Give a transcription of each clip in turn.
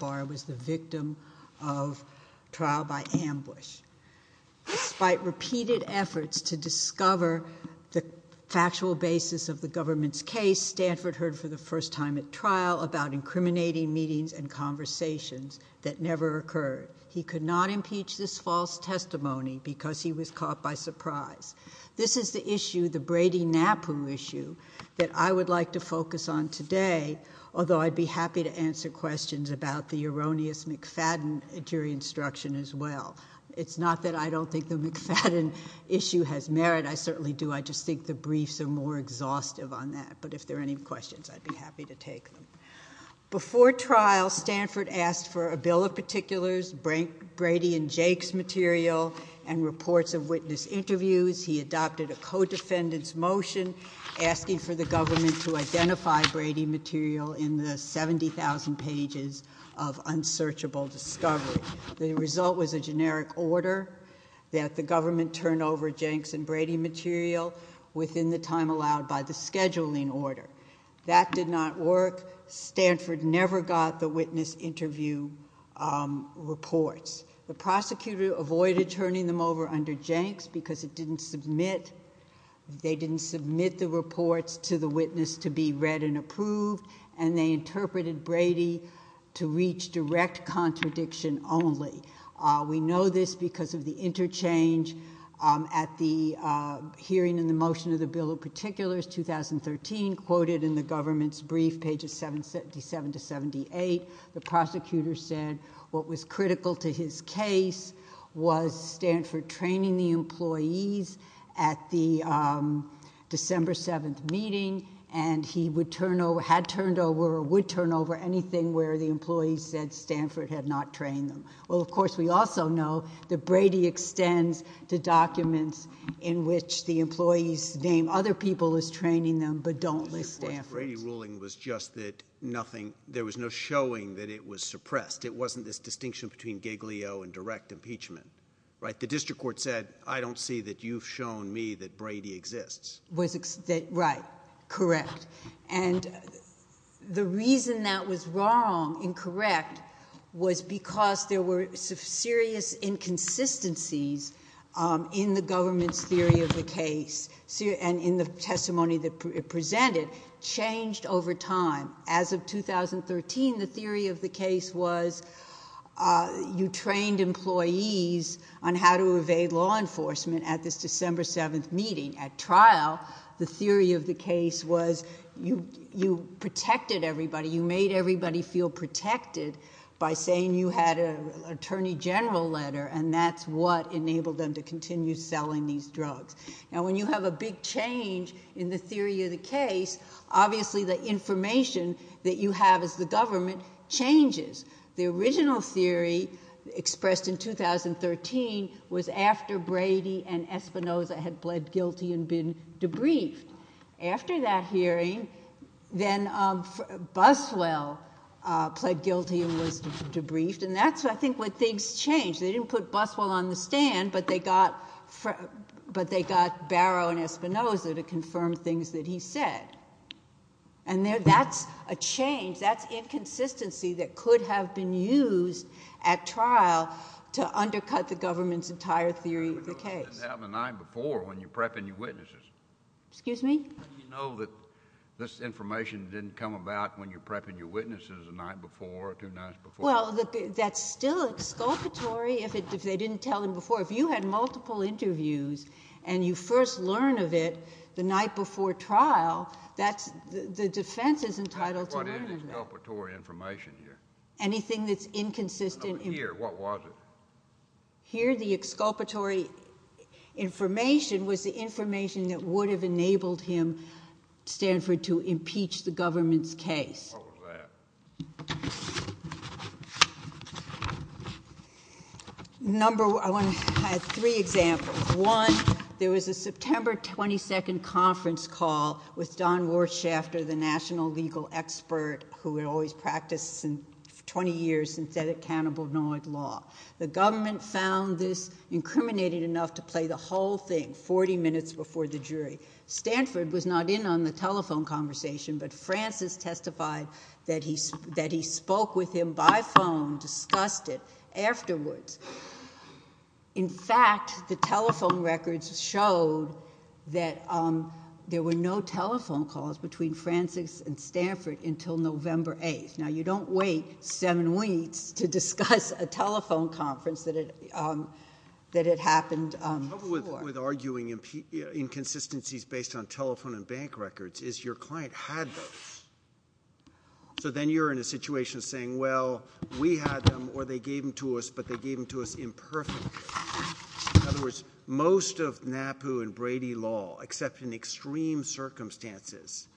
was the victim of trial by ambush. Despite repeated efforts to discover the factual basis of the government's case, Stanford heard for the first time at trial about incriminating meetings and conversations that never occurred. He could not impeach this false testimony because he was caught by surprise. This is the issue, the Brady-Napoo issue, that I would like to focus on today, although I'd be happy to answer questions about the erroneous McFadden jury instruction as well. It's not that I don't think the McFadden issue has merit. I certainly do. I just think the briefs are more exhaustive on that. But if there are any questions, I'd be happy to take them. Before trial, Stanford asked for a bill of particulars, Brady and Jake's material, and reports of witness interviews. He adopted a co-defendant's motion asking for the government to identify Brady material in the 70,000 pages of unsearchable discovery. The result was a generic order that the government turn over Jenks and Brady material within the time allowed by the scheduling order. That did not work. Stanford never got the witness interview reports. The prosecutor avoided turning them over under the circumstances. They didn't submit the reports to the witness to be read and approved, and they interpreted Brady to reach direct contradiction only. We know this because of the interchange at the hearing in the motion of the bill of particulars, 2013, quoted in the government's brief, pages 77 to 78. The prosecutor said what was critical to his case was Stanford training the employees at the December 7th meeting, and he would turn over, had turned over, or would turn over anything where the employees said Stanford had not trained them. Well, of course, we also know that Brady extends to documents in which the employees name other people as training them, but don't list Stanford. Brady ruling was just that there was no showing that it was suppressed. It wasn't this distinction between Giglio and direct impeachment, right? The district court said, I don't see that you've shown me that Brady exists. Was that right, correct? And the reason that was wrong, incorrect, was because there were some serious inconsistencies in the government's theory of the case, and in the testimony that it presented, changed over time. As of 2013, the theory of the case was that it was not you trained employees on how to evade law enforcement at this December 7th meeting. At trial, the theory of the case was you protected everybody. You made everybody feel protected by saying you had an attorney general letter, and that's what enabled them to continue selling these drugs. Now, when you have a big change in the theory of the case, obviously the information that you have as the government changes. The original theory expressed in 2013 was after Brady and Espinoza had pled guilty and been debriefed. After that hearing, then Buswell pled guilty and was debriefed, and that's, I think, what things changed. They didn't put Buswell on the stand, but they got Barrow and Espinoza to confirm things that he said, and that's a change. That's inconsistency that could have been used at trial to undercut the government's entire theory of the case. But it doesn't happen the night before when you're prepping your witnesses. Excuse me? How do you know that this information didn't come about when you're prepping your witnesses the night before or two nights before? Well, that's still exculpatory if they didn't tell them before. If you had multiple interviews and you first learn of it the night before trial, that's, the defense is entitled to learn of it. What is the exculpatory information here? Anything that's inconsistent. No, but here, what was it? Here the exculpatory information was the information that would have enabled him, Stanford, to impeach the government's case. What was that? I had three examples. One, there was a September 22nd conference call with Don Warshafter, the national legal expert who had always practiced, for 20 years, synthetic cannabinoid law. The government found this incriminating enough to play the whole thing 40 minutes before the jury. Stanford was not in on the telephone conversation, but Francis testified that he spoke with him by phone, discussed it afterwards. In fact, the telephone records showed that there were no telephone calls between Francis and Stanford until November 8th. Now, you don't wait seven weeks to discuss a telephone conference that had happened before. The problem with arguing inconsistencies based on telephone and bank records is your client had those. So then you're in a situation saying, well, we had them, or they gave them to us, but they gave them to us imperfectly. In other words, most of NAPU and Brady law, except in extreme circumstances,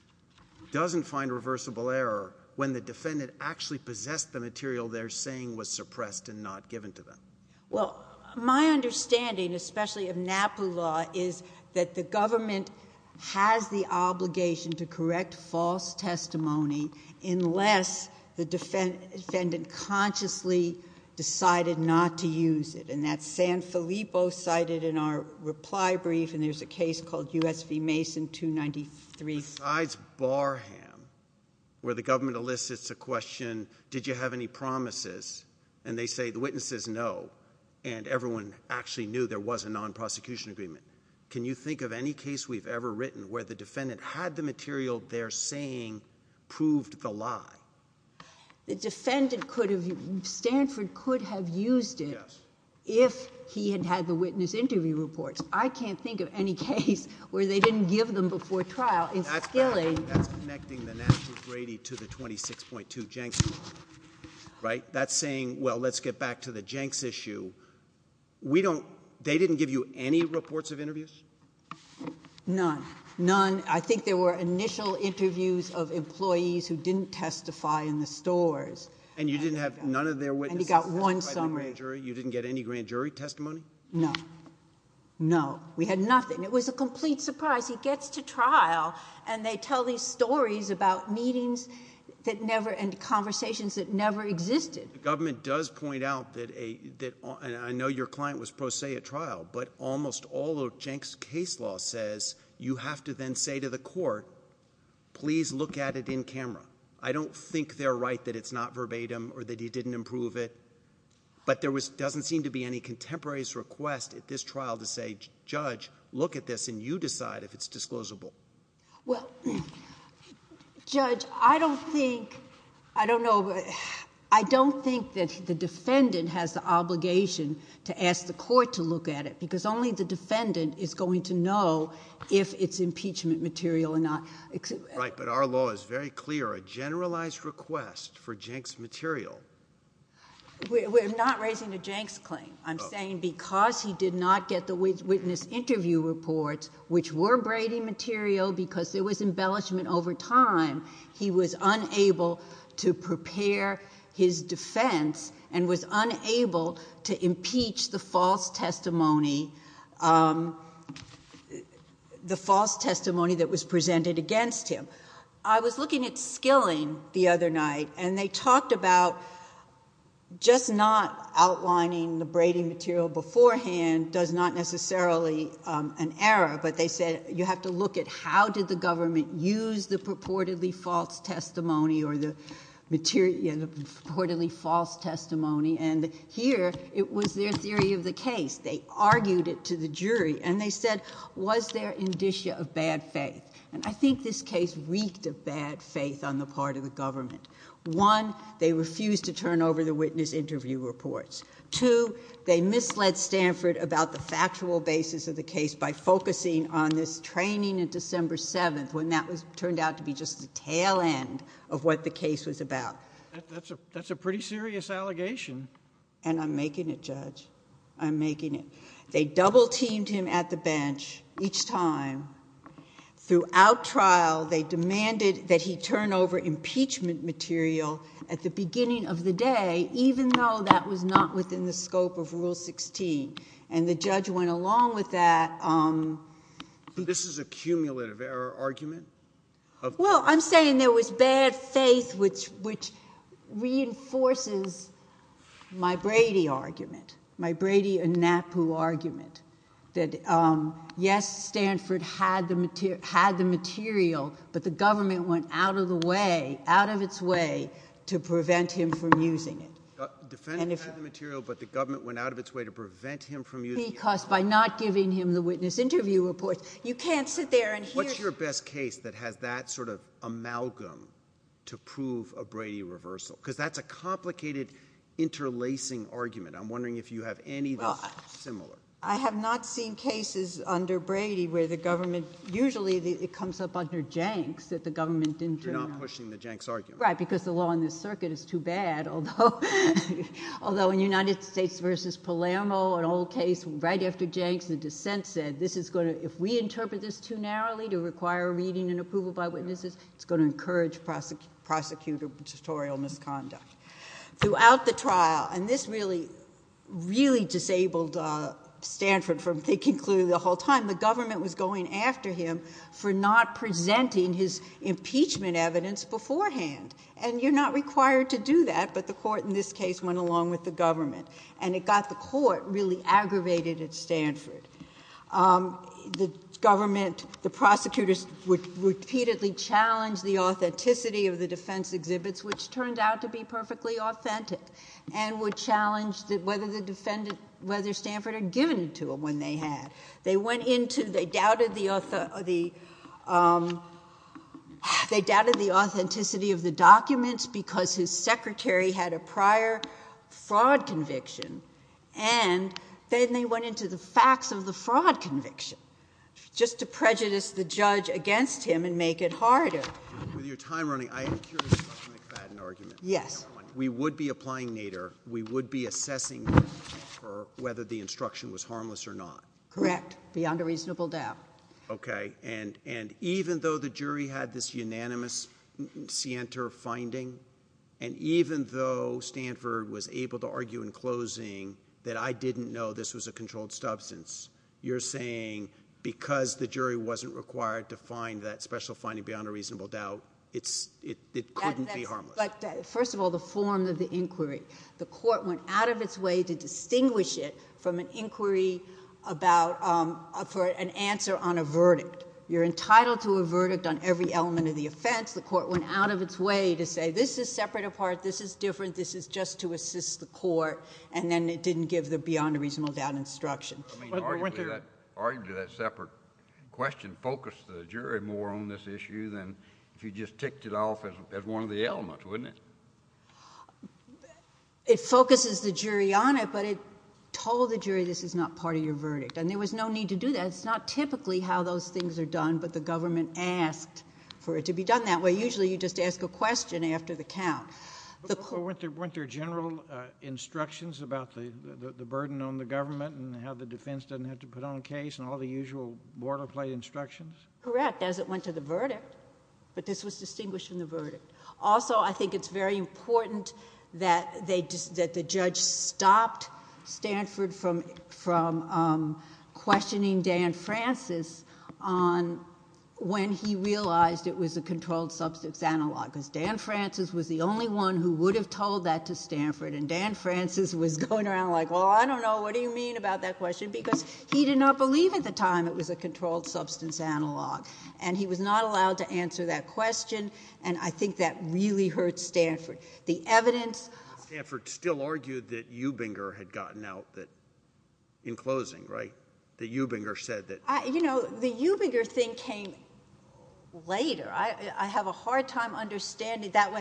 doesn't find reversible error when the defendant actually possessed the material they're saying was suppressed and not given to them. Well, my understanding, especially of NAPU law, is that the government has the obligation to correct false testimony unless the defendant consciously decided not to use it. And that's San Filippo cited in our reply brief, and there's a case called U.S. v. Mason 293. Besides Barham, where the government elicits a question, did you have any promises, and they say, the witness says no, and everyone actually knew there was a non-prosecution agreement. Can you think of any case we've ever written where the defendant had the material they're saying proved the lie? The defendant could have... Stanford could have used it if he had had the witness interview reports. I can't think of any case where they didn't give them before trial in skilling... That's connecting the NAPU-Brady to the 26.2 Jenks law, right? That's saying, well, let's get back to the Jenks issue. We don't... they didn't give you any reports of interviews? None. None. I think there were initial interviews of employees who didn't testify in the stores. And you didn't have none of their witnesses testified by the grand jury? You didn't get any grand jury testimony? No. No. We had nothing. It was a complete surprise. He gets to trial, and they tell these stories about meetings that never... and conversations that never existed. The government does point out that a... and I know your client was pro se at trial, but almost all of Jenks case law says you have to then say to the court, please look at it in camera. I don't think they're right that it's not verbatim or that he didn't improve it, but there doesn't seem to be any contemporaries' request at this trial to say, judge, look at this and you decide if it's disclosable. Well, judge, I don't think... I don't know... I don't think that the defendant has the obligation to ask the court to look at it, because only the defendant is going to know if it's impeachment material or not. Right, but our law is very clear. A generalized request for Jenks material. We're not raising a Jenks claim. I'm saying because he did not get the witness interview reports, which were Brady material, because there was embellishment over time, he was unable to prepare his defense and was unable to impeach the false testimony... the false testimony that was presented against him. I was looking at Skilling the other night, and they talked about just not outlining the an error, but they said, you have to look at how did the government use the purportedly false testimony or the material... the purportedly false testimony, and here it was their theory of the case. They argued it to the jury, and they said, was there indicia of bad faith? And I think this case reeked of bad faith on the part of the government. One, they refused to turn over the witness interview reports. Two, they misled Stanford about the factual basis of the case by focusing on this training on December 7th, when that turned out to be just the tail end of what the case was about. That's a pretty serious allegation. And I'm making it, Judge. I'm making it. They double teamed him at the bench each time. Throughout trial, they demanded that he turn over impeachment material at the beginning of the day, even though that was not within the scope of Rule 16. And the judge went along with that. This is a cumulative error argument? Well, I'm saying there was bad faith, which reinforces my Brady argument, my Brady and Napu argument, that yes, Stanford had the material, but the government went out of the way to prevent him from using it. Because by not giving him the witness interview reports, you can't sit there and hear... What's your best case that has that sort of amalgam to prove a Brady reversal? Because that's a complicated, interlacing argument. I'm wondering if you have any that's similar. I have not seen cases under Brady where the government, usually it comes up under Jenks, that the government didn't turn... You're not pushing the Jenks argument. Right, because the law in this circuit is too bad, although in United States v. Palermo, an old case right after Jenks, the dissent said, if we interpret this too narrowly to require reading and approval by witnesses, it's going to encourage prosecutorial misconduct. Throughout the trial, and this really, really disabled Stanford from thinking clearly the whole time, the government was going after him for not presenting his impeachment evidence beforehand, and you're not required to do that, but the court in this case went along with the government, and it got the court really aggravated at Stanford. The government, the prosecutors would repeatedly challenge the authenticity of the defense exhibits, which turned out to be perfectly authentic, and would challenge whether Stanford had given to them when they had. They went into, they doubted the authenticity of the documents because his secretary had a prior fraud conviction, and then they went into the facts of the fraud conviction, just to prejudice the judge against him and make it harder. With your time running, I am curious about the McFadden argument. Yes. We would be applying Nader. We would be assessing whether the instruction was harmless or not. Correct. Beyond a reasonable doubt. Okay. And even though the jury had this unanimous Sienter finding, and even though Stanford was able to argue in closing that I didn't know this was a controlled substance, you're saying because the jury wasn't required to find that special finding beyond a reasonable doubt, it couldn't be harmless. First of all, the form of the inquiry. The court went out of its way to distinguish it from an inquiry about, for an answer on a verdict. You're entitled to a verdict on every element of the offense. The court went out of its way to say, this is separate apart, this is different, this is just to assist the court, and then it didn't give the beyond a reasonable doubt instruction. I mean, arguably that separate question focused the jury more on this issue than if you just picked it off as one of the elements, wouldn't it? It focuses the jury on it, but it told the jury this is not part of your verdict. And there was no need to do that. It's not typically how those things are done, but the government asked for it to be done that way. Usually you just ask a question after the count. But weren't there general instructions about the burden on the government and how the defense doesn't have to put on a case and all the usual boilerplate instructions? Correct, as it went to the verdict. But this was distinguished from the verdict. Also, I think it's very important that the judge stopped Stanford from questioning Dan Francis on when he realized it was a controlled substance analog, because Dan Francis was the only one who would have told that to Stanford. And Dan Francis was going around like, well, I don't know, what do you mean about that question? Because he did not believe at the time it was a controlled substance analog. And he was not allowed to answer that question. And I think that really hurt Stanford. The evidence... Stanford still argued that Eubinger had gotten out in closing, right? That Eubinger said that... You know, the Eubinger thing came later. I have a hard time understanding... That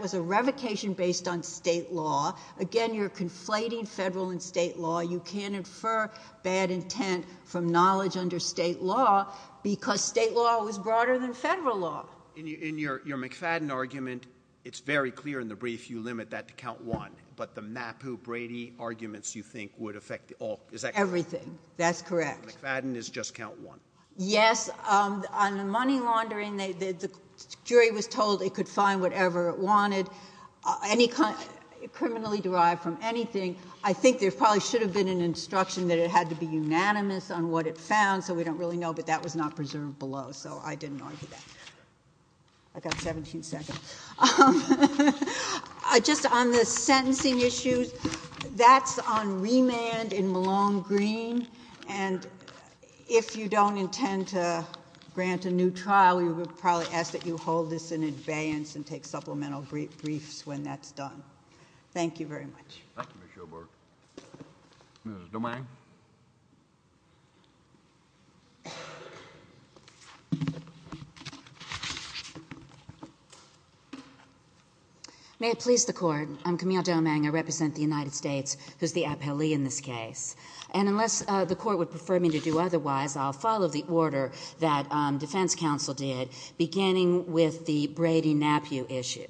was a revocation based on state law. Again, you're conflating federal and state law. You can't infer bad intent from knowledge under state law, because state law was broader than federal law. In your McFadden argument, it's very clear in the brief you limit that to count one. But the Mappu-Brady arguments, you think, would affect all... Is that correct? Everything. That's correct. McFadden is just count one. Yes. On the money laundering, the jury was told it could find whatever it wanted, criminally derived from anything. I think there probably should have been an instruction that it had to be unanimous on what it found, so we don't really know. But that was not preserved below, so I didn't argue that. I've got 17 seconds. Just on the sentencing issues, that's on remand in Malone Green. And if you don't intend to grant a new trial, we would probably ask that you hold this in advance and take supplemental briefs when that's done. Thank you very much. Thank you, Ms. Shobart. Ms. Domang? May it please the Court, I'm Camille Domang. I represent the United States, who's the appellee in this case. And unless the Court would prefer me to do otherwise, I'll follow the order that defense counsel did, beginning with the Brady-Napiew issue.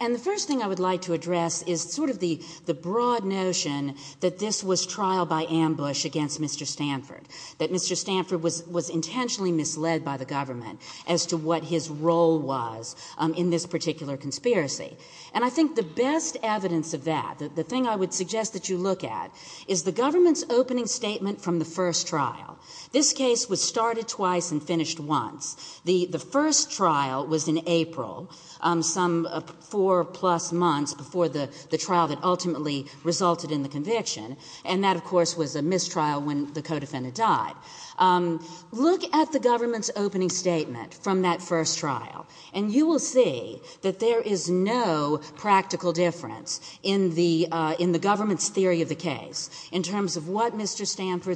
And the first thing I would like to address is sort of the broad notion that this was trial by ambush against Mr. Stanford, that Mr. Stanford was intentionally misled by the government as to what his role was in this particular conspiracy. And I think the best evidence of that, the thing I would suggest that you look at, is the government's opening statement from the first trial. This case was started twice and finished once. The first trial was in April, some four-plus months before the trial that ultimately resulted in the conviction. And that, of course, was a mistrial when the co-defendant died. Look at the government's opening statement from that first trial, and you will see that there is no practical difference in the government's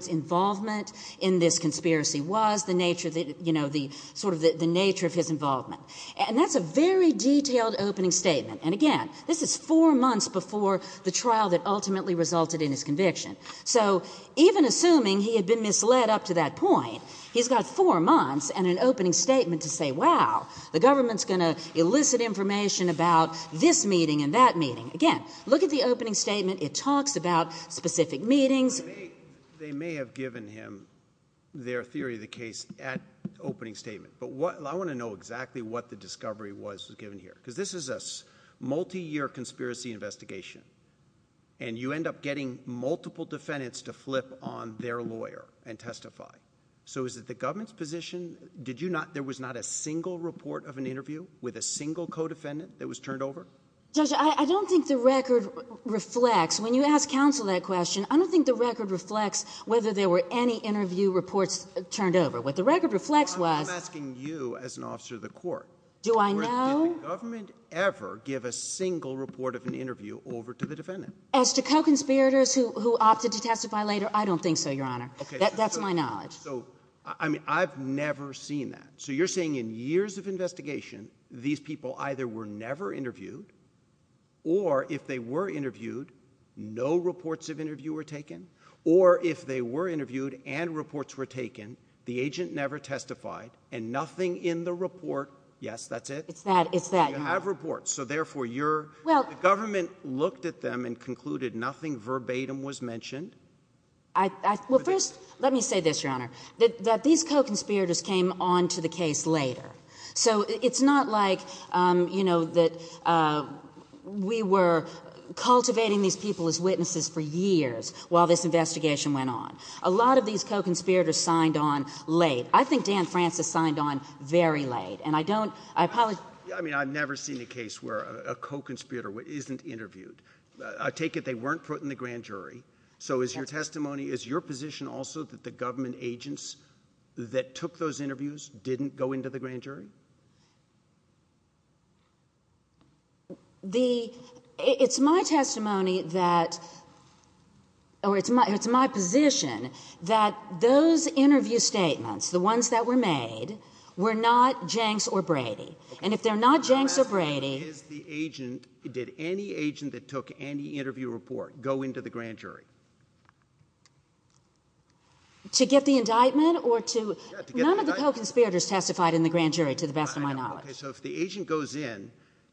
involvement in this conspiracy was, the nature of his involvement. And that's a very detailed opening statement. And again, this is four months before the trial that ultimately resulted in his conviction. So even assuming he had been misled up to that point, he's got four months and an opening statement to say, wow, the government's going to elicit information about this meeting and that meeting. Again, look at the opening statement. It talks about specific meetings. They may have given him their theory of the case at opening statement. But I want to know exactly what the discovery was given here. Because this is a multi-year conspiracy investigation. And you end up getting multiple defendants to flip on their lawyer and testify. So is it the government's position? There was not a single report of an interview with a single co-defendant that was turned over? Judge, I don't think the record reflects. When you ask counsel that question, I don't think the record reflects whether there were any interview reports turned over. What the record reflects was... I'm asking you as an officer of the court. Do I know? Did the government ever give a single report of an interview over to the defendant? As to co-conspirators who opted to testify later, I don't think so, Your Honor. That's my knowledge. So, I mean, I've never seen that. So you're saying in years of investigation, these people either were never interviewed, or if they were interviewed, no reports of interview were taken? Or if they were interviewed and reports were taken, the agent never testified and nothing in the report? Yes, that's it? It's that. You have reports. So therefore, the government looked at them and concluded nothing verbatim was mentioned? Well, first, let me say this, Your Honor, that these co-conspirators came on to the you know, that we were cultivating these people as witnesses for years while this investigation went on. A lot of these co-conspirators signed on late. I think Dan Francis signed on very late. And I don't, I apologize... I mean, I've never seen a case where a co-conspirator isn't interviewed. I take it they weren't put in the grand jury. So is your testimony, is your position also that the government agents that took those interviews didn't go into the grand jury? The, it's my testimony that, or it's my position that those interview statements, the ones that were made, were not Jenks or Brady. And if they're not Jenks or Brady... My question is, did any agent that took any interview report go into the grand jury? To get the indictment or to... Yeah, to get the indictment. Co-conspirators testified in the grand jury, to the best of my knowledge. I know. Okay, so if the agent goes in,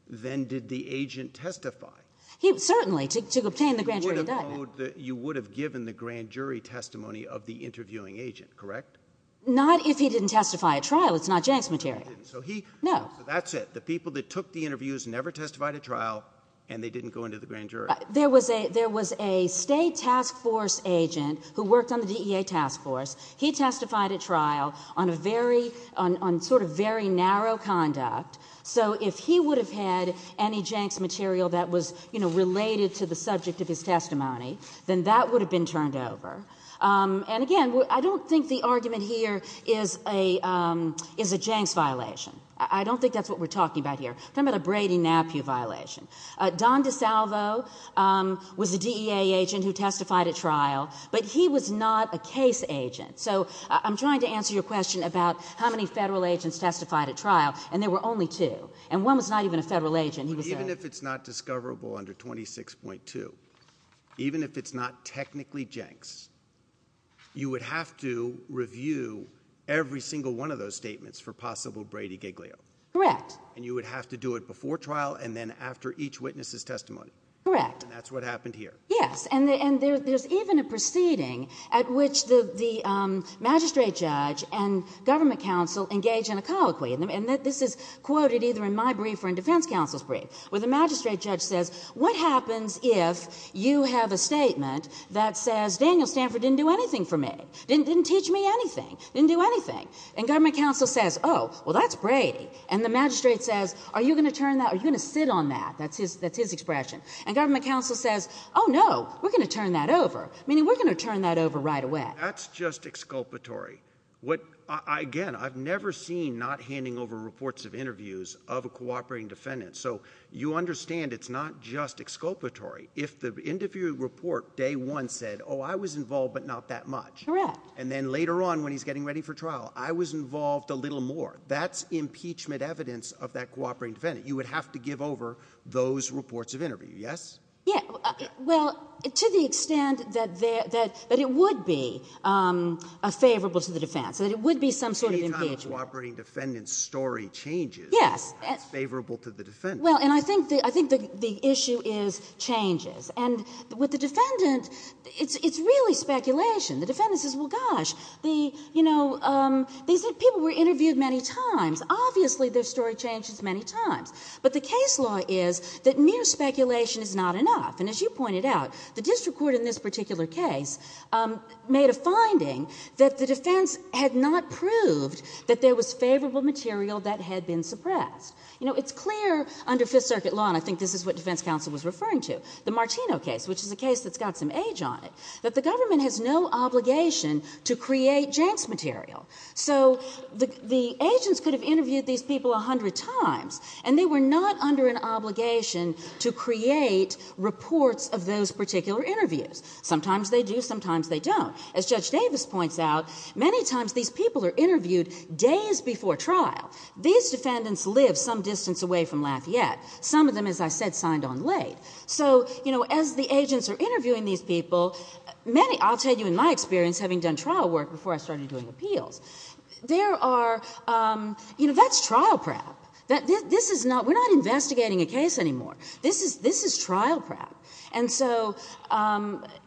then did the agent testify? He, certainly, to obtain the grand jury indictment. You would have given the grand jury testimony of the interviewing agent, correct? Not if he didn't testify at trial. It's not Jenks material. So he... No. So that's it. The people that took the interviews never testified at trial, and they didn't go into the grand jury. There was a, there was a state task force agent who worked on the DEA task force. He testified at trial on a very, on sort of very narrow conduct. So if he would have had any Jenks material that was, you know, related to the subject of his testimony, then that would have been turned over. And again, I don't think the argument here is a Jenks violation. I don't think that's what we're talking about here. We're talking about a Brady-Napieu violation. Don DeSalvo was a DEA agent who testified at trial, but he was not a case agent. So I'm trying to answer your question about how many federal agents testified at trial, and there were only two. And one was not even a federal agent. Even if it's not discoverable under 26.2, even if it's not technically Jenks, you would have to review every single one of those statements for possible Brady-Giglio. Correct. And you would have to do it before trial and then after each witness's testimony. Correct. And that's what happened here. Yes. And there's even a proceeding at which the magistrate judge and government counsel engage in a colloquy, and this is quoted either in my brief or in defense counsel's brief, where the magistrate judge says, what happens if you have a statement that says, Daniel Stanford didn't do anything for me, didn't teach me anything, didn't do anything? And government counsel says, oh, well, that's Brady. And the magistrate says, are you going to turn that, are you going to sit on that? That's his expression. And government counsel says, oh, no, we're going to turn that over, meaning we're going to turn that over right away. That's just exculpatory. Again, I've never seen not handing over reports of interviews of a cooperating defendant. So you understand it's not just exculpatory. If the interview report day one said, oh, I was involved, but not that much. Correct. And then later on when he's getting ready for trial, I was involved a little more. That's impeachment evidence of that cooperating defendant. You would have to give over those reports of interview, yes? Yeah. Well, to the extent that it would be favorable to the defense, that it would be some sort of impeachment. Any time a cooperating defendant's story changes, it's favorable to the defendant. Well, and I think the issue is changes. And with the defendant, it's really speculation. The defendant says, well, gosh, people were interviewed many times. Obviously, their story changes many times. But the case law is that mere speculation is not enough. And as you pointed out, the district court in this particular case made a finding that the defense had not proved that there was favorable material that had been suppressed. It's clear under Fifth Circuit law, and I think this is what defense counsel was referring to, the Martino case, which is a case that's got some age on it, that the government has no obligation to create janks material. So the agents could have interviewed these people a hundred times, and they were not under an obligation to create reports of those particular interviews. Sometimes they do, sometimes they don't. As Judge Davis points out, many times these people are interviewed days before trial. These defendants live some distance away from Lafayette. Some of them, as I said, signed on late. So as the agents are interviewing these people, I'll tell you in my experience, having done trial work before I started doing appeals, there are, you know, that's trial prep. This is not, we're not investigating a case anymore. This is trial prep. And so,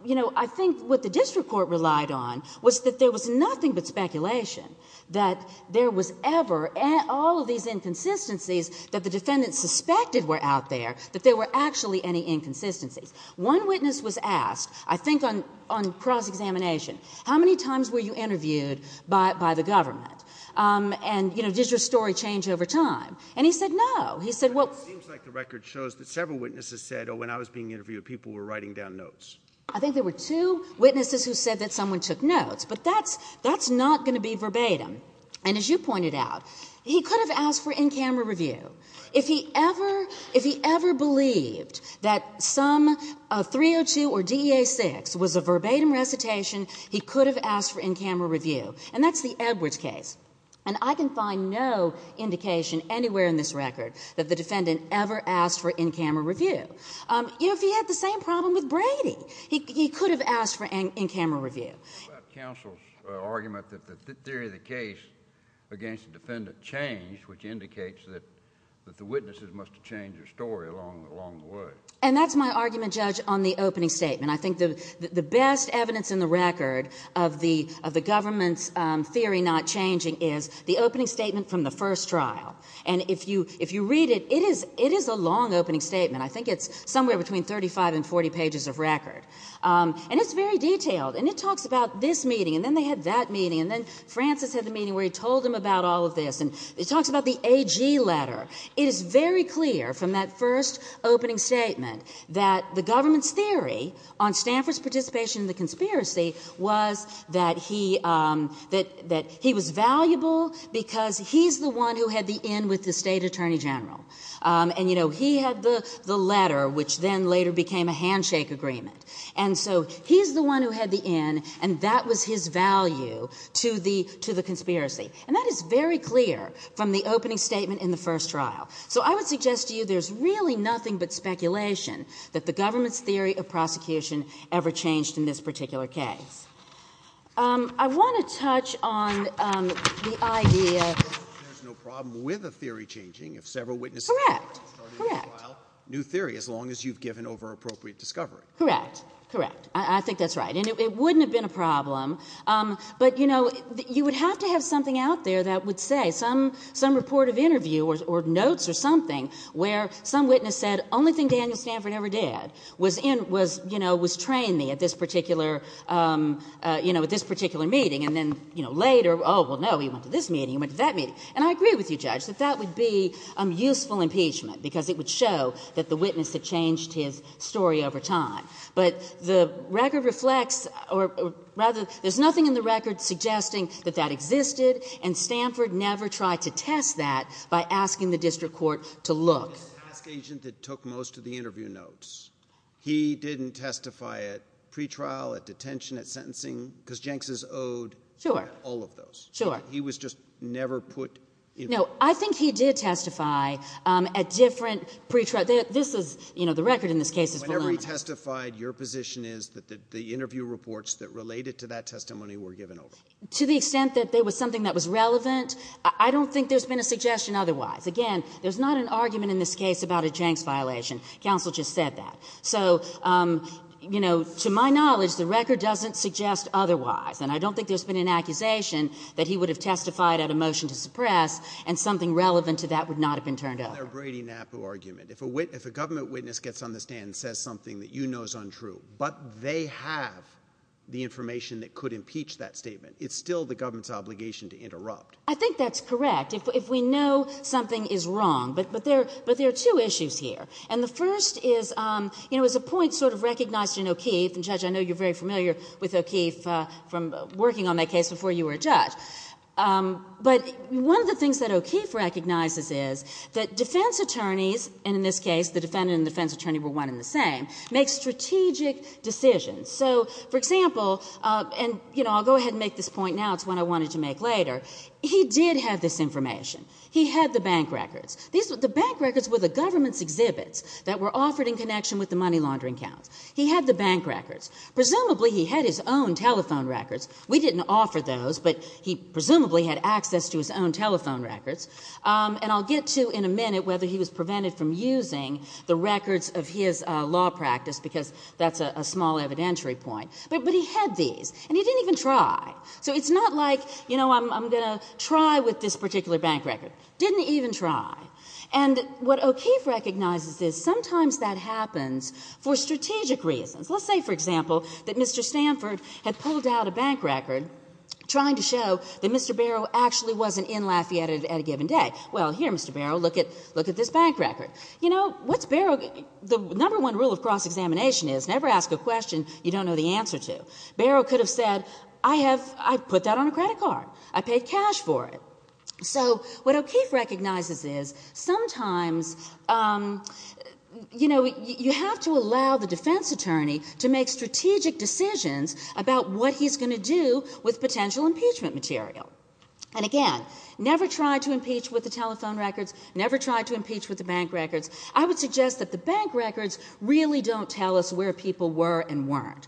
you know, I think what the district court relied on was that there was nothing but speculation that there was ever, all of these inconsistencies that the defendants suspected were out there, that there were actually any inconsistencies. One witness was asked, I think on cross-examination, how many times were you interviewed by the government? And, you know, did your story change over time? And he said, no. He said, well... It seems like the record shows that several witnesses said, oh, when I was being interviewed, people were writing down notes. I think there were two witnesses who said that someone took notes. But that's not going to be verbatim. And as you pointed out, he could have asked for in-camera review. If he ever, if he ever believed that some 302 or DEA-6 was a verbatim recitation, he could have asked for in-camera review. And that's the Edwards case. And I can find no indication anywhere in this record that the defendant ever asked for in-camera review. You know, if he had the same problem with Brady, he could have asked for in-camera review. What about counsel's argument that the theory of the case against the defendant changed, which indicates that the witnesses must have changed their story along the way? And that's my argument, Judge, on the opening statement. I think the best evidence in the record of the government's theory not changing is the opening statement from the first trial. And if you read it, it is a long opening statement. I think it's somewhere between 35 and 40 pages of record. And it's very detailed. And it talks about this meeting, and then they had that meeting, and then Francis had the meeting where he told them about all of this. And it talks about the AG letter. It is very clear from that first opening statement that the government's theory on Stanford's participation in the conspiracy was that he was valuable because he's the one who had the in with the state attorney general. And, you know, he had the letter, which then later became a handshake agreement. And so he's the one who had the in, and that was his value to the conspiracy. And that is very clear from the opening statement in the first trial. So I would suggest to you there's really nothing but speculation that the government's theory of prosecution ever changed in this particular case. I want to touch on the idea that there's no problem with a theory changing if several witnesses start a new trial, new theory, as long as you've given over-appropriate discovery. Correct. Correct. I think that's right. And it wouldn't have been a problem. But, you know, you would have to have something out there that would say, some report of interview or notes or something where some witness said, only thing Daniel Stanford ever did was train me at this particular meeting. And then later, oh, well, no, he went to this meeting, he went to that meeting. And I agree with you, Judge, that that would be useful impeachment because it would show that the witness had changed his story over time. But the record reflects or rather, there's nothing in the record suggesting that that existed. And Stanford never tried to test that by asking the district court to look. The task agent that took most of the interview notes, he didn't testify at pretrial, at detention, at sentencing because Jenks is owed. Sure. All of those. Sure. He was just never put in. No, I think he did different pretrial. This is, you know, the record in this case is whenever he testified, your position is that the interview reports that related to that testimony were given over to the extent that there was something that was relevant. I don't think there's been a suggestion otherwise. Again, there's not an argument in this case about a Jenks violation. Counsel just said that. So, you know, to my knowledge, the record doesn't suggest otherwise. And I don't think there's been an accusation that he would have testified at a motion to a government witness gets on the stand and says something that you know is untrue, but they have the information that could impeach that statement. It's still the government's obligation to interrupt. I think that's correct. If we know something is wrong, but there are two issues here. And the first is, you know, as a point sort of recognized in O'Keeffe, and Judge, I know you're very familiar with O'Keeffe from working on that case before you were a judge. But one of the things that O'Keeffe recognizes is that defense attorneys, and in this case the defendant and defense attorney were one and the same, make strategic decisions. So, for example, and, you know, I'll go ahead and make this point now. It's what I wanted to make later. He did have this information. He had the bank records. The bank records were the government's exhibits that were offered in connection with the money laundering counts. He had the bank records. Presumably he had his own telephone records. We didn't offer those, but he presumably had access to his own telephone records. And I'll get to in a minute whether he was prevented from using the records of his law practice, because that's a small evidentiary point. But he had these. And he didn't even try. So it's not like, you know, I'm going to try with this particular bank record. Didn't even try. And what O'Keeffe recognizes is sometimes that happens for strategic reasons. Let's say, for example, that Mr. Stanford had pulled out a bank record trying to show that Mr. Barrow actually wasn't in Lafayette at a given day. Well, here, Mr. Barrow, look at this bank record. You know, what's Barrow, the number one rule of cross-examination is never ask a question you don't know the answer to. Barrow could have said, I have, I put that on a credit card. I paid cash for it. So what O'Keeffe recognizes is sometimes, you know, you have to allow the defense attorney to make strategic decisions about what he's going to do with potential impeachment material. And again, never try to impeach with the telephone records. Never try to impeach with the bank records. I would suggest that the bank records really don't tell us where people were and weren't.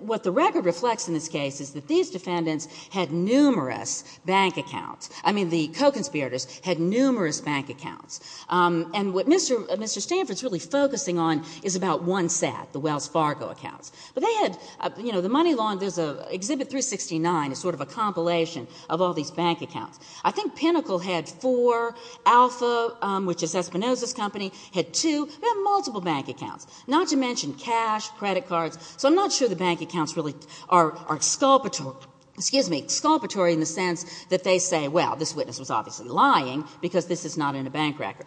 What the record reflects in this case is that these defendants had numerous bank accounts. I mean, the co-conspirators had numerous bank accounts. And what Mr. Stanford's really focusing on is about one set, the Wells Fargo accounts. But they had, you know, the Money Lawn, there's an Exhibit 369, sort of a compilation of all these bank accounts. I think Pinnacle had four. Alpha, which is Espinoza's company, had two. They had multiple bank accounts, not to mention cash, credit cards. So I'm not sure the bank accounts really are exculpatory in the sense that they say, well, this witness was obviously lying because this is not in a bank record.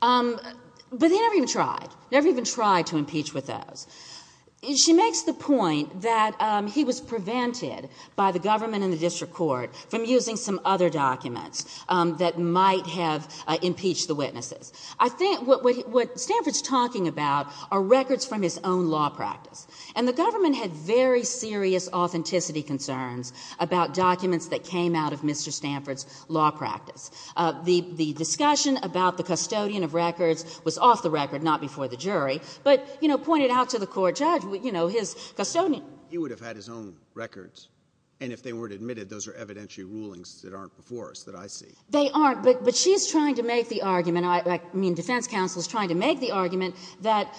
But he never even tried. Never even tried to impeach with those. She makes the point that he was prevented by the government and the district court from using some other documents that might have impeached the witnesses. I think what Stanford's talking about are records from his own law practice. And the government had very serious authenticity concerns about documents that came out of Mr. Stanford's law practice. The discussion about the custodian of records was off the record, not before the jury. But, you know, pointed out to the court judge, you know, his custodian. He would have had his own records. And if they weren't admitted, those are evidentiary rulings that aren't before us that I see. They aren't. But she's trying to make the argument, I mean, defense counsel is trying to make the argument that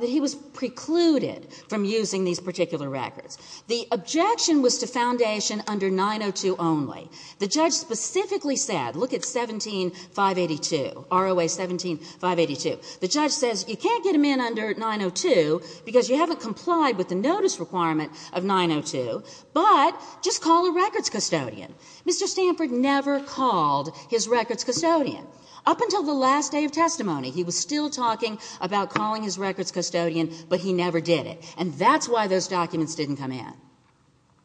he was precluded from using these particular records. The objection was to foundation under 902 only. The judge specifically said, look at 17582, ROA 17582. The judge says you can't get him in under 902 because you haven't complied with the notice requirement of 902, but just call a records custodian. Mr. Stanford never called his records custodian. Up until the last day of testimony, he was still talking about calling his records custodian, but he never did it. And that's why those documents didn't come in.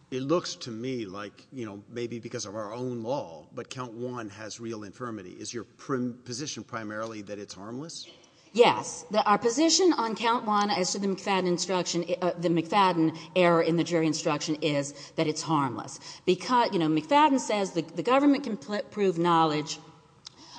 It looks to me like, you know, maybe because of our own law, but count one has real infirmity. Is your position primarily that it's harmless? Yes. Our position on count one as to the McFadden instruction, the McFadden error in the jury instruction is that it's harmless. Because, you know, McFadden says the government can prove knowledge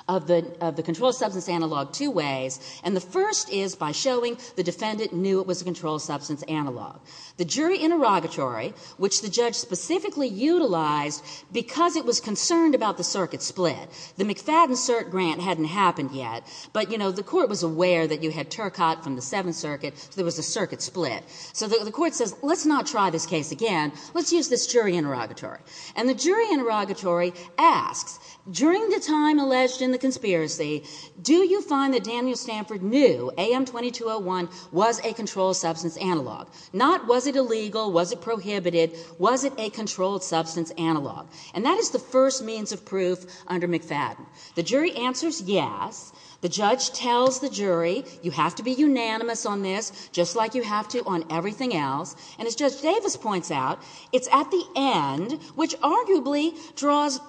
of the controlled substance analog two ways. And the first is by showing the defendant knew it was a controlled substance analog. The jury interrogatory, which the judge specifically utilized because it was concerned about the circuit split. The McFadden cert grant hadn't happened yet, but, you know, the court was aware that you had Turcotte from the Seventh Circuit, so there was a circuit split. So the court says, let's not try this case again. Let's use this jury interrogatory. And the jury interrogatory asks, during the time alleged in the conspiracy, do you find that Daniel Stanford knew AM 2201 was a controlled substance analog? Not was it illegal? Was it prohibited? Was it a controlled substance analog? And that is the first means of proof under McFadden. The jury answers yes. The judge tells the jury, you have to be unanimous on this, just like you have to on everything else. And as Judge Davis points out, it's at the end, which arguably draws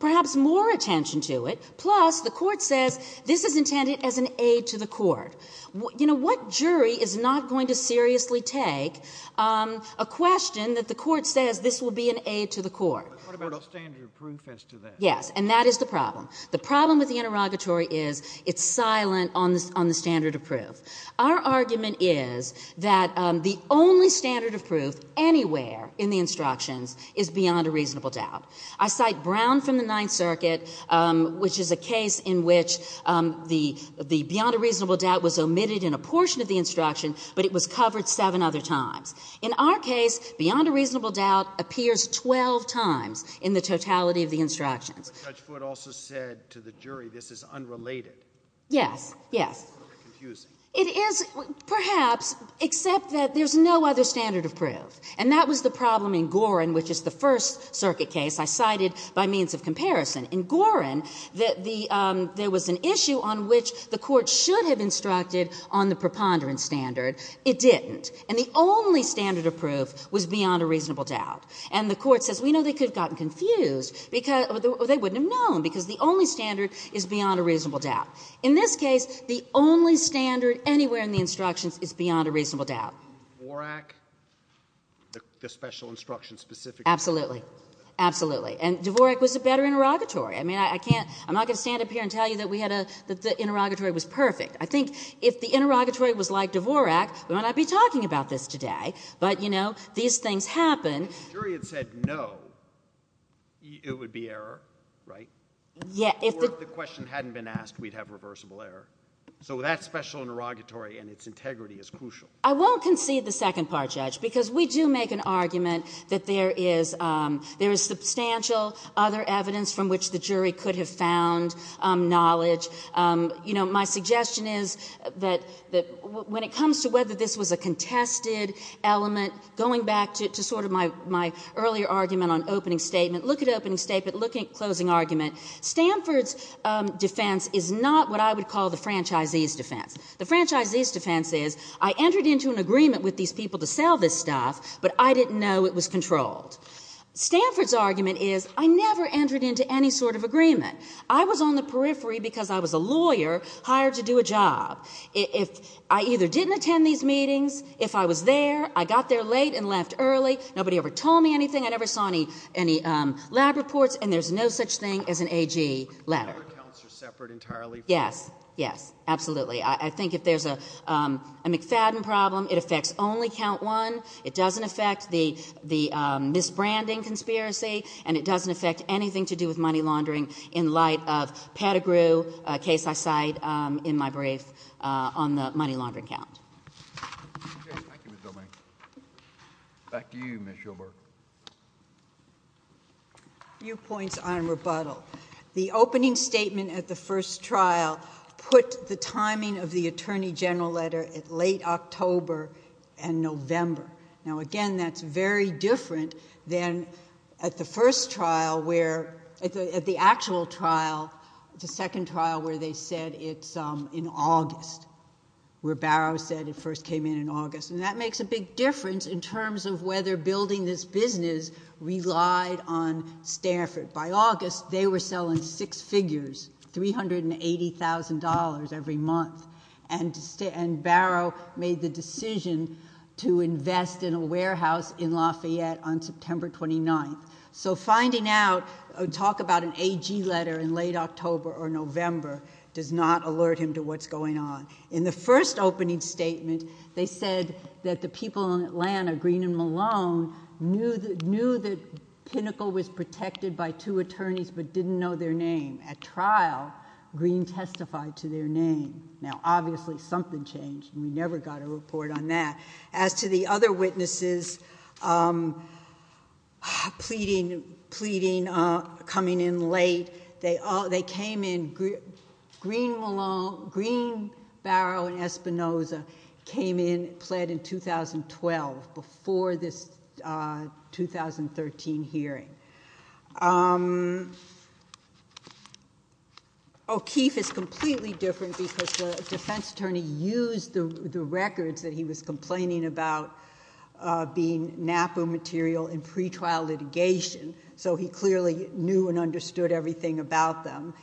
perhaps more attention to it. Plus, the court says this is intended as an aid to the court. You know, what jury is not going to seriously take a question that the court says this will be an aid to the court? What about a standard of proof as to that? Yes. And that is the problem. The problem with the interrogatory is it's silent on the standard of proof. Our argument is that the only standard of proof anywhere in the instructions is beyond a reasonable doubt. I cite Brown from the Ninth Circuit, which is a case in which the beyond a reasonable doubt was omitted in a portion of the instruction, but it was covered seven other times. In our case, beyond a reasonable doubt appears 12 times in the totality of the instructions. But Judge Foote also said to the jury, this is unrelated. Yes. Yes. It's confusing. It is, perhaps, except that there's no other standard of proof. And that was the problem in Gorin, which is the First Circuit case I cited by means of comparison. In Gorin, the — there was an issue on which the court should have instructed on the preponderance standard. It didn't. And the only standard of proof was beyond a reasonable doubt. And the court says, we know they could have gotten confused because — or they wouldn't have known because the only standard is beyond a reasonable doubt. In this case, the only standard anywhere in the instructions is beyond a reasonable doubt. Do you agree with Dvorak, the special instruction specific — Absolutely. Absolutely. And Dvorak was a better interrogatory. I mean, I can't — I'm not going to stand up here and tell you that we had a — that the interrogatory was perfect. I think if the interrogatory was like Dvorak, we might not be talking about this today. But you know, these things happen. If the jury had said no, it would be error, right? Yeah. Or if the question hadn't been asked, we'd have reversible error. So that special interrogatory and its integrity is crucial. I won't concede the second part, Judge, because we do make an argument that there is — there is substantial other evidence from which the jury could have found knowledge. You know, my suggestion is that when it comes to whether this was a contested element, going back to sort of my earlier argument on opening statement, look at opening statement, look at closing argument, Stanford's defense is not what I would call the franchisee's defense. The franchisee's defense is, I entered into an agreement with these people to sell this stuff, but I didn't know it was controlled. Stanford's argument is, I never entered into any sort of agreement. I was on the periphery because I was a lawyer hired to do a job. If — I either didn't attend these meetings, if I was there, I got there late and left early, nobody ever told me anything, I never saw any lab reports, and there's no such thing as an AG letter. So your accounts are separate entirely from — Yes. Yes. Absolutely. I think if there's a McFadden problem, it affects only count one. It doesn't affect the misbranding conspiracy, and it doesn't affect anything to do with money laundering in light of Pettigrew, a case I cite in my brief on the money laundering count. Okay. Thank you, Ms. Domingue. Back to you, Ms. Shulberg. Few points on rebuttal. The opening statement at the first trial put the timing of the attorney general letter at late October and November. Now, again, that's very different than at the first trial where — at the actual trial, the second trial where they said it's in August, where Barrow said it first came in in August. And that makes a big difference in terms of whether building this business relied on Stanford. By August, they were selling six figures, $380,000 every month. And Barrow made the decision to invest in a warehouse in Lafayette on September 29th. So finding out — talk about an AG letter in late October or November does not alert him to what's going on. In the first opening statement, they said that the people in Atlanta, Green and Malone, knew that Pinnacle was protected by two attorneys but didn't know their name. At trial, Green testified to their name. Now, obviously, something changed, and we never got a report on that. As to the other witnesses pleading — pleading, coming in late, they came in — Green, Malone came in, pled in 2012, before this 2013 hearing. O'Keefe is completely different because the defense attorney used the records that he was complaining about being NAPA material in pretrial litigation, so he clearly knew and understood everything about them.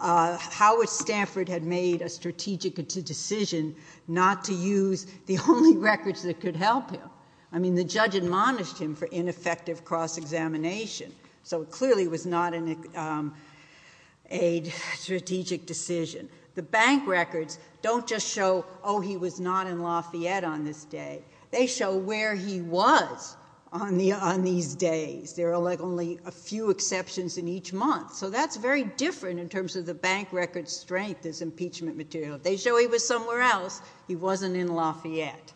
Howard Stanford had made a strategic decision not to use the only records that could help him. I mean, the judge admonished him for ineffective cross-examination, so it clearly was not a strategic decision. The bank records don't just show, oh, he was not in Lafayette on this day. They show where he was on these days. There are only a few exceptions in each month. So that's very different in terms of the bank records' strength as impeachment material. They show he was somewhere else. He wasn't in Lafayette.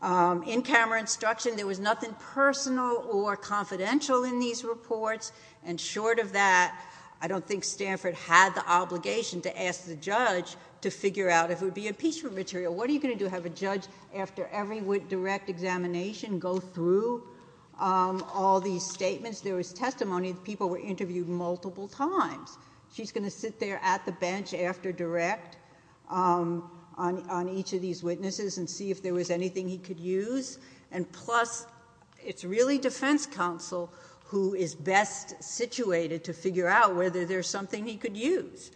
In camera instruction, there was nothing personal or confidential in these reports, and short of that, I don't think Stanford had the obligation to ask the judge to figure out if it would be impeachment material. What are you going to do? Have a judge, after every direct examination, go through all these statements? There was testimony that people were interviewed multiple times. She's going to sit there at the bench after direct on each of these witnesses and see if there was anything he could use, and plus, it's really defense counsel who is best situated to figure out whether there's something he could use.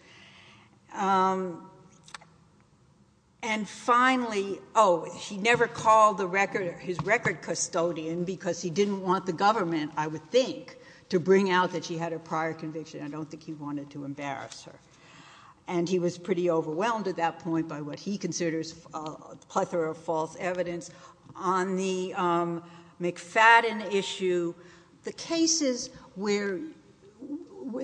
And finally, oh, he never called his record custodian because he didn't want the government, I would think, to bring out that she had a prior conviction. I don't think he wanted to embarrass her. And he was pretty overwhelmed at that point by what he considers a plethora of false evidence. On the McFadden issue, the cases where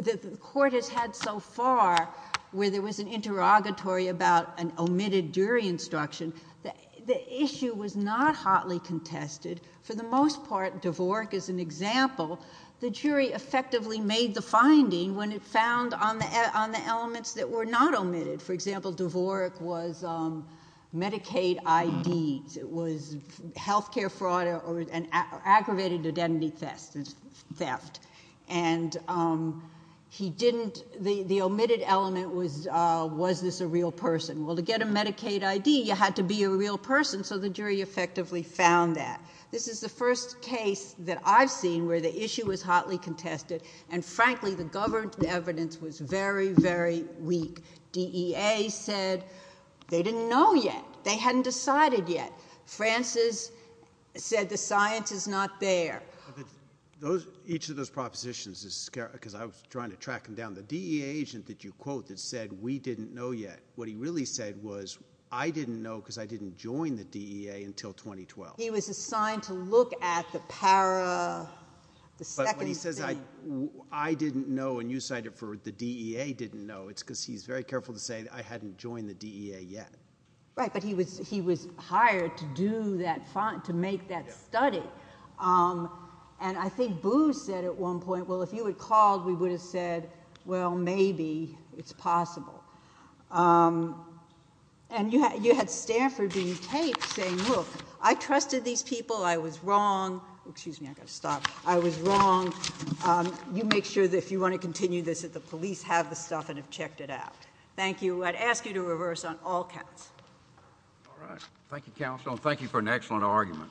the court has had so far where there was an interrogatory about an omitted jury instruction, the issue was not hotly contested. For the most part, Dvorak is an example. The jury effectively made the finding when it found on the elements that were not omitted. For example, Dvorak was Medicaid ID, it was health care fraud or aggravated identity theft. And he didn't, the omitted element was, was this a real person? Well, to get a Medicaid ID, you had to be a real person, so the jury effectively found that. This is the first case that I've seen where the issue was hotly contested, and frankly, the government evidence was very, very weak. DEA said they didn't know yet. They hadn't decided yet. Francis said the science is not there. Those, each of those propositions is, because I was trying to track them down. The DEA agent that you quote that said, we didn't know yet, what he really said was, I didn't know because I didn't join the DEA until 2012. He was assigned to look at the para, the second thing. But when he says I didn't know and you cited for the DEA didn't know, it's because he's very careful to say I hadn't joined the DEA yet. Right, but he was, he was hired to do that, to make that study. And I think Booz said at one point, well, if you had called, we would have said, well, maybe it's possible. And you had, you had Stanford being taped, saying, look, I trusted these people, I was wrong, excuse me, I gotta stop, I was wrong. You make sure that if you want to continue this, that the police have the stuff and have checked it out. Thank you, I'd ask you to reverse on all counts. All right, thank you, counsel, and thank you for an excellent argument.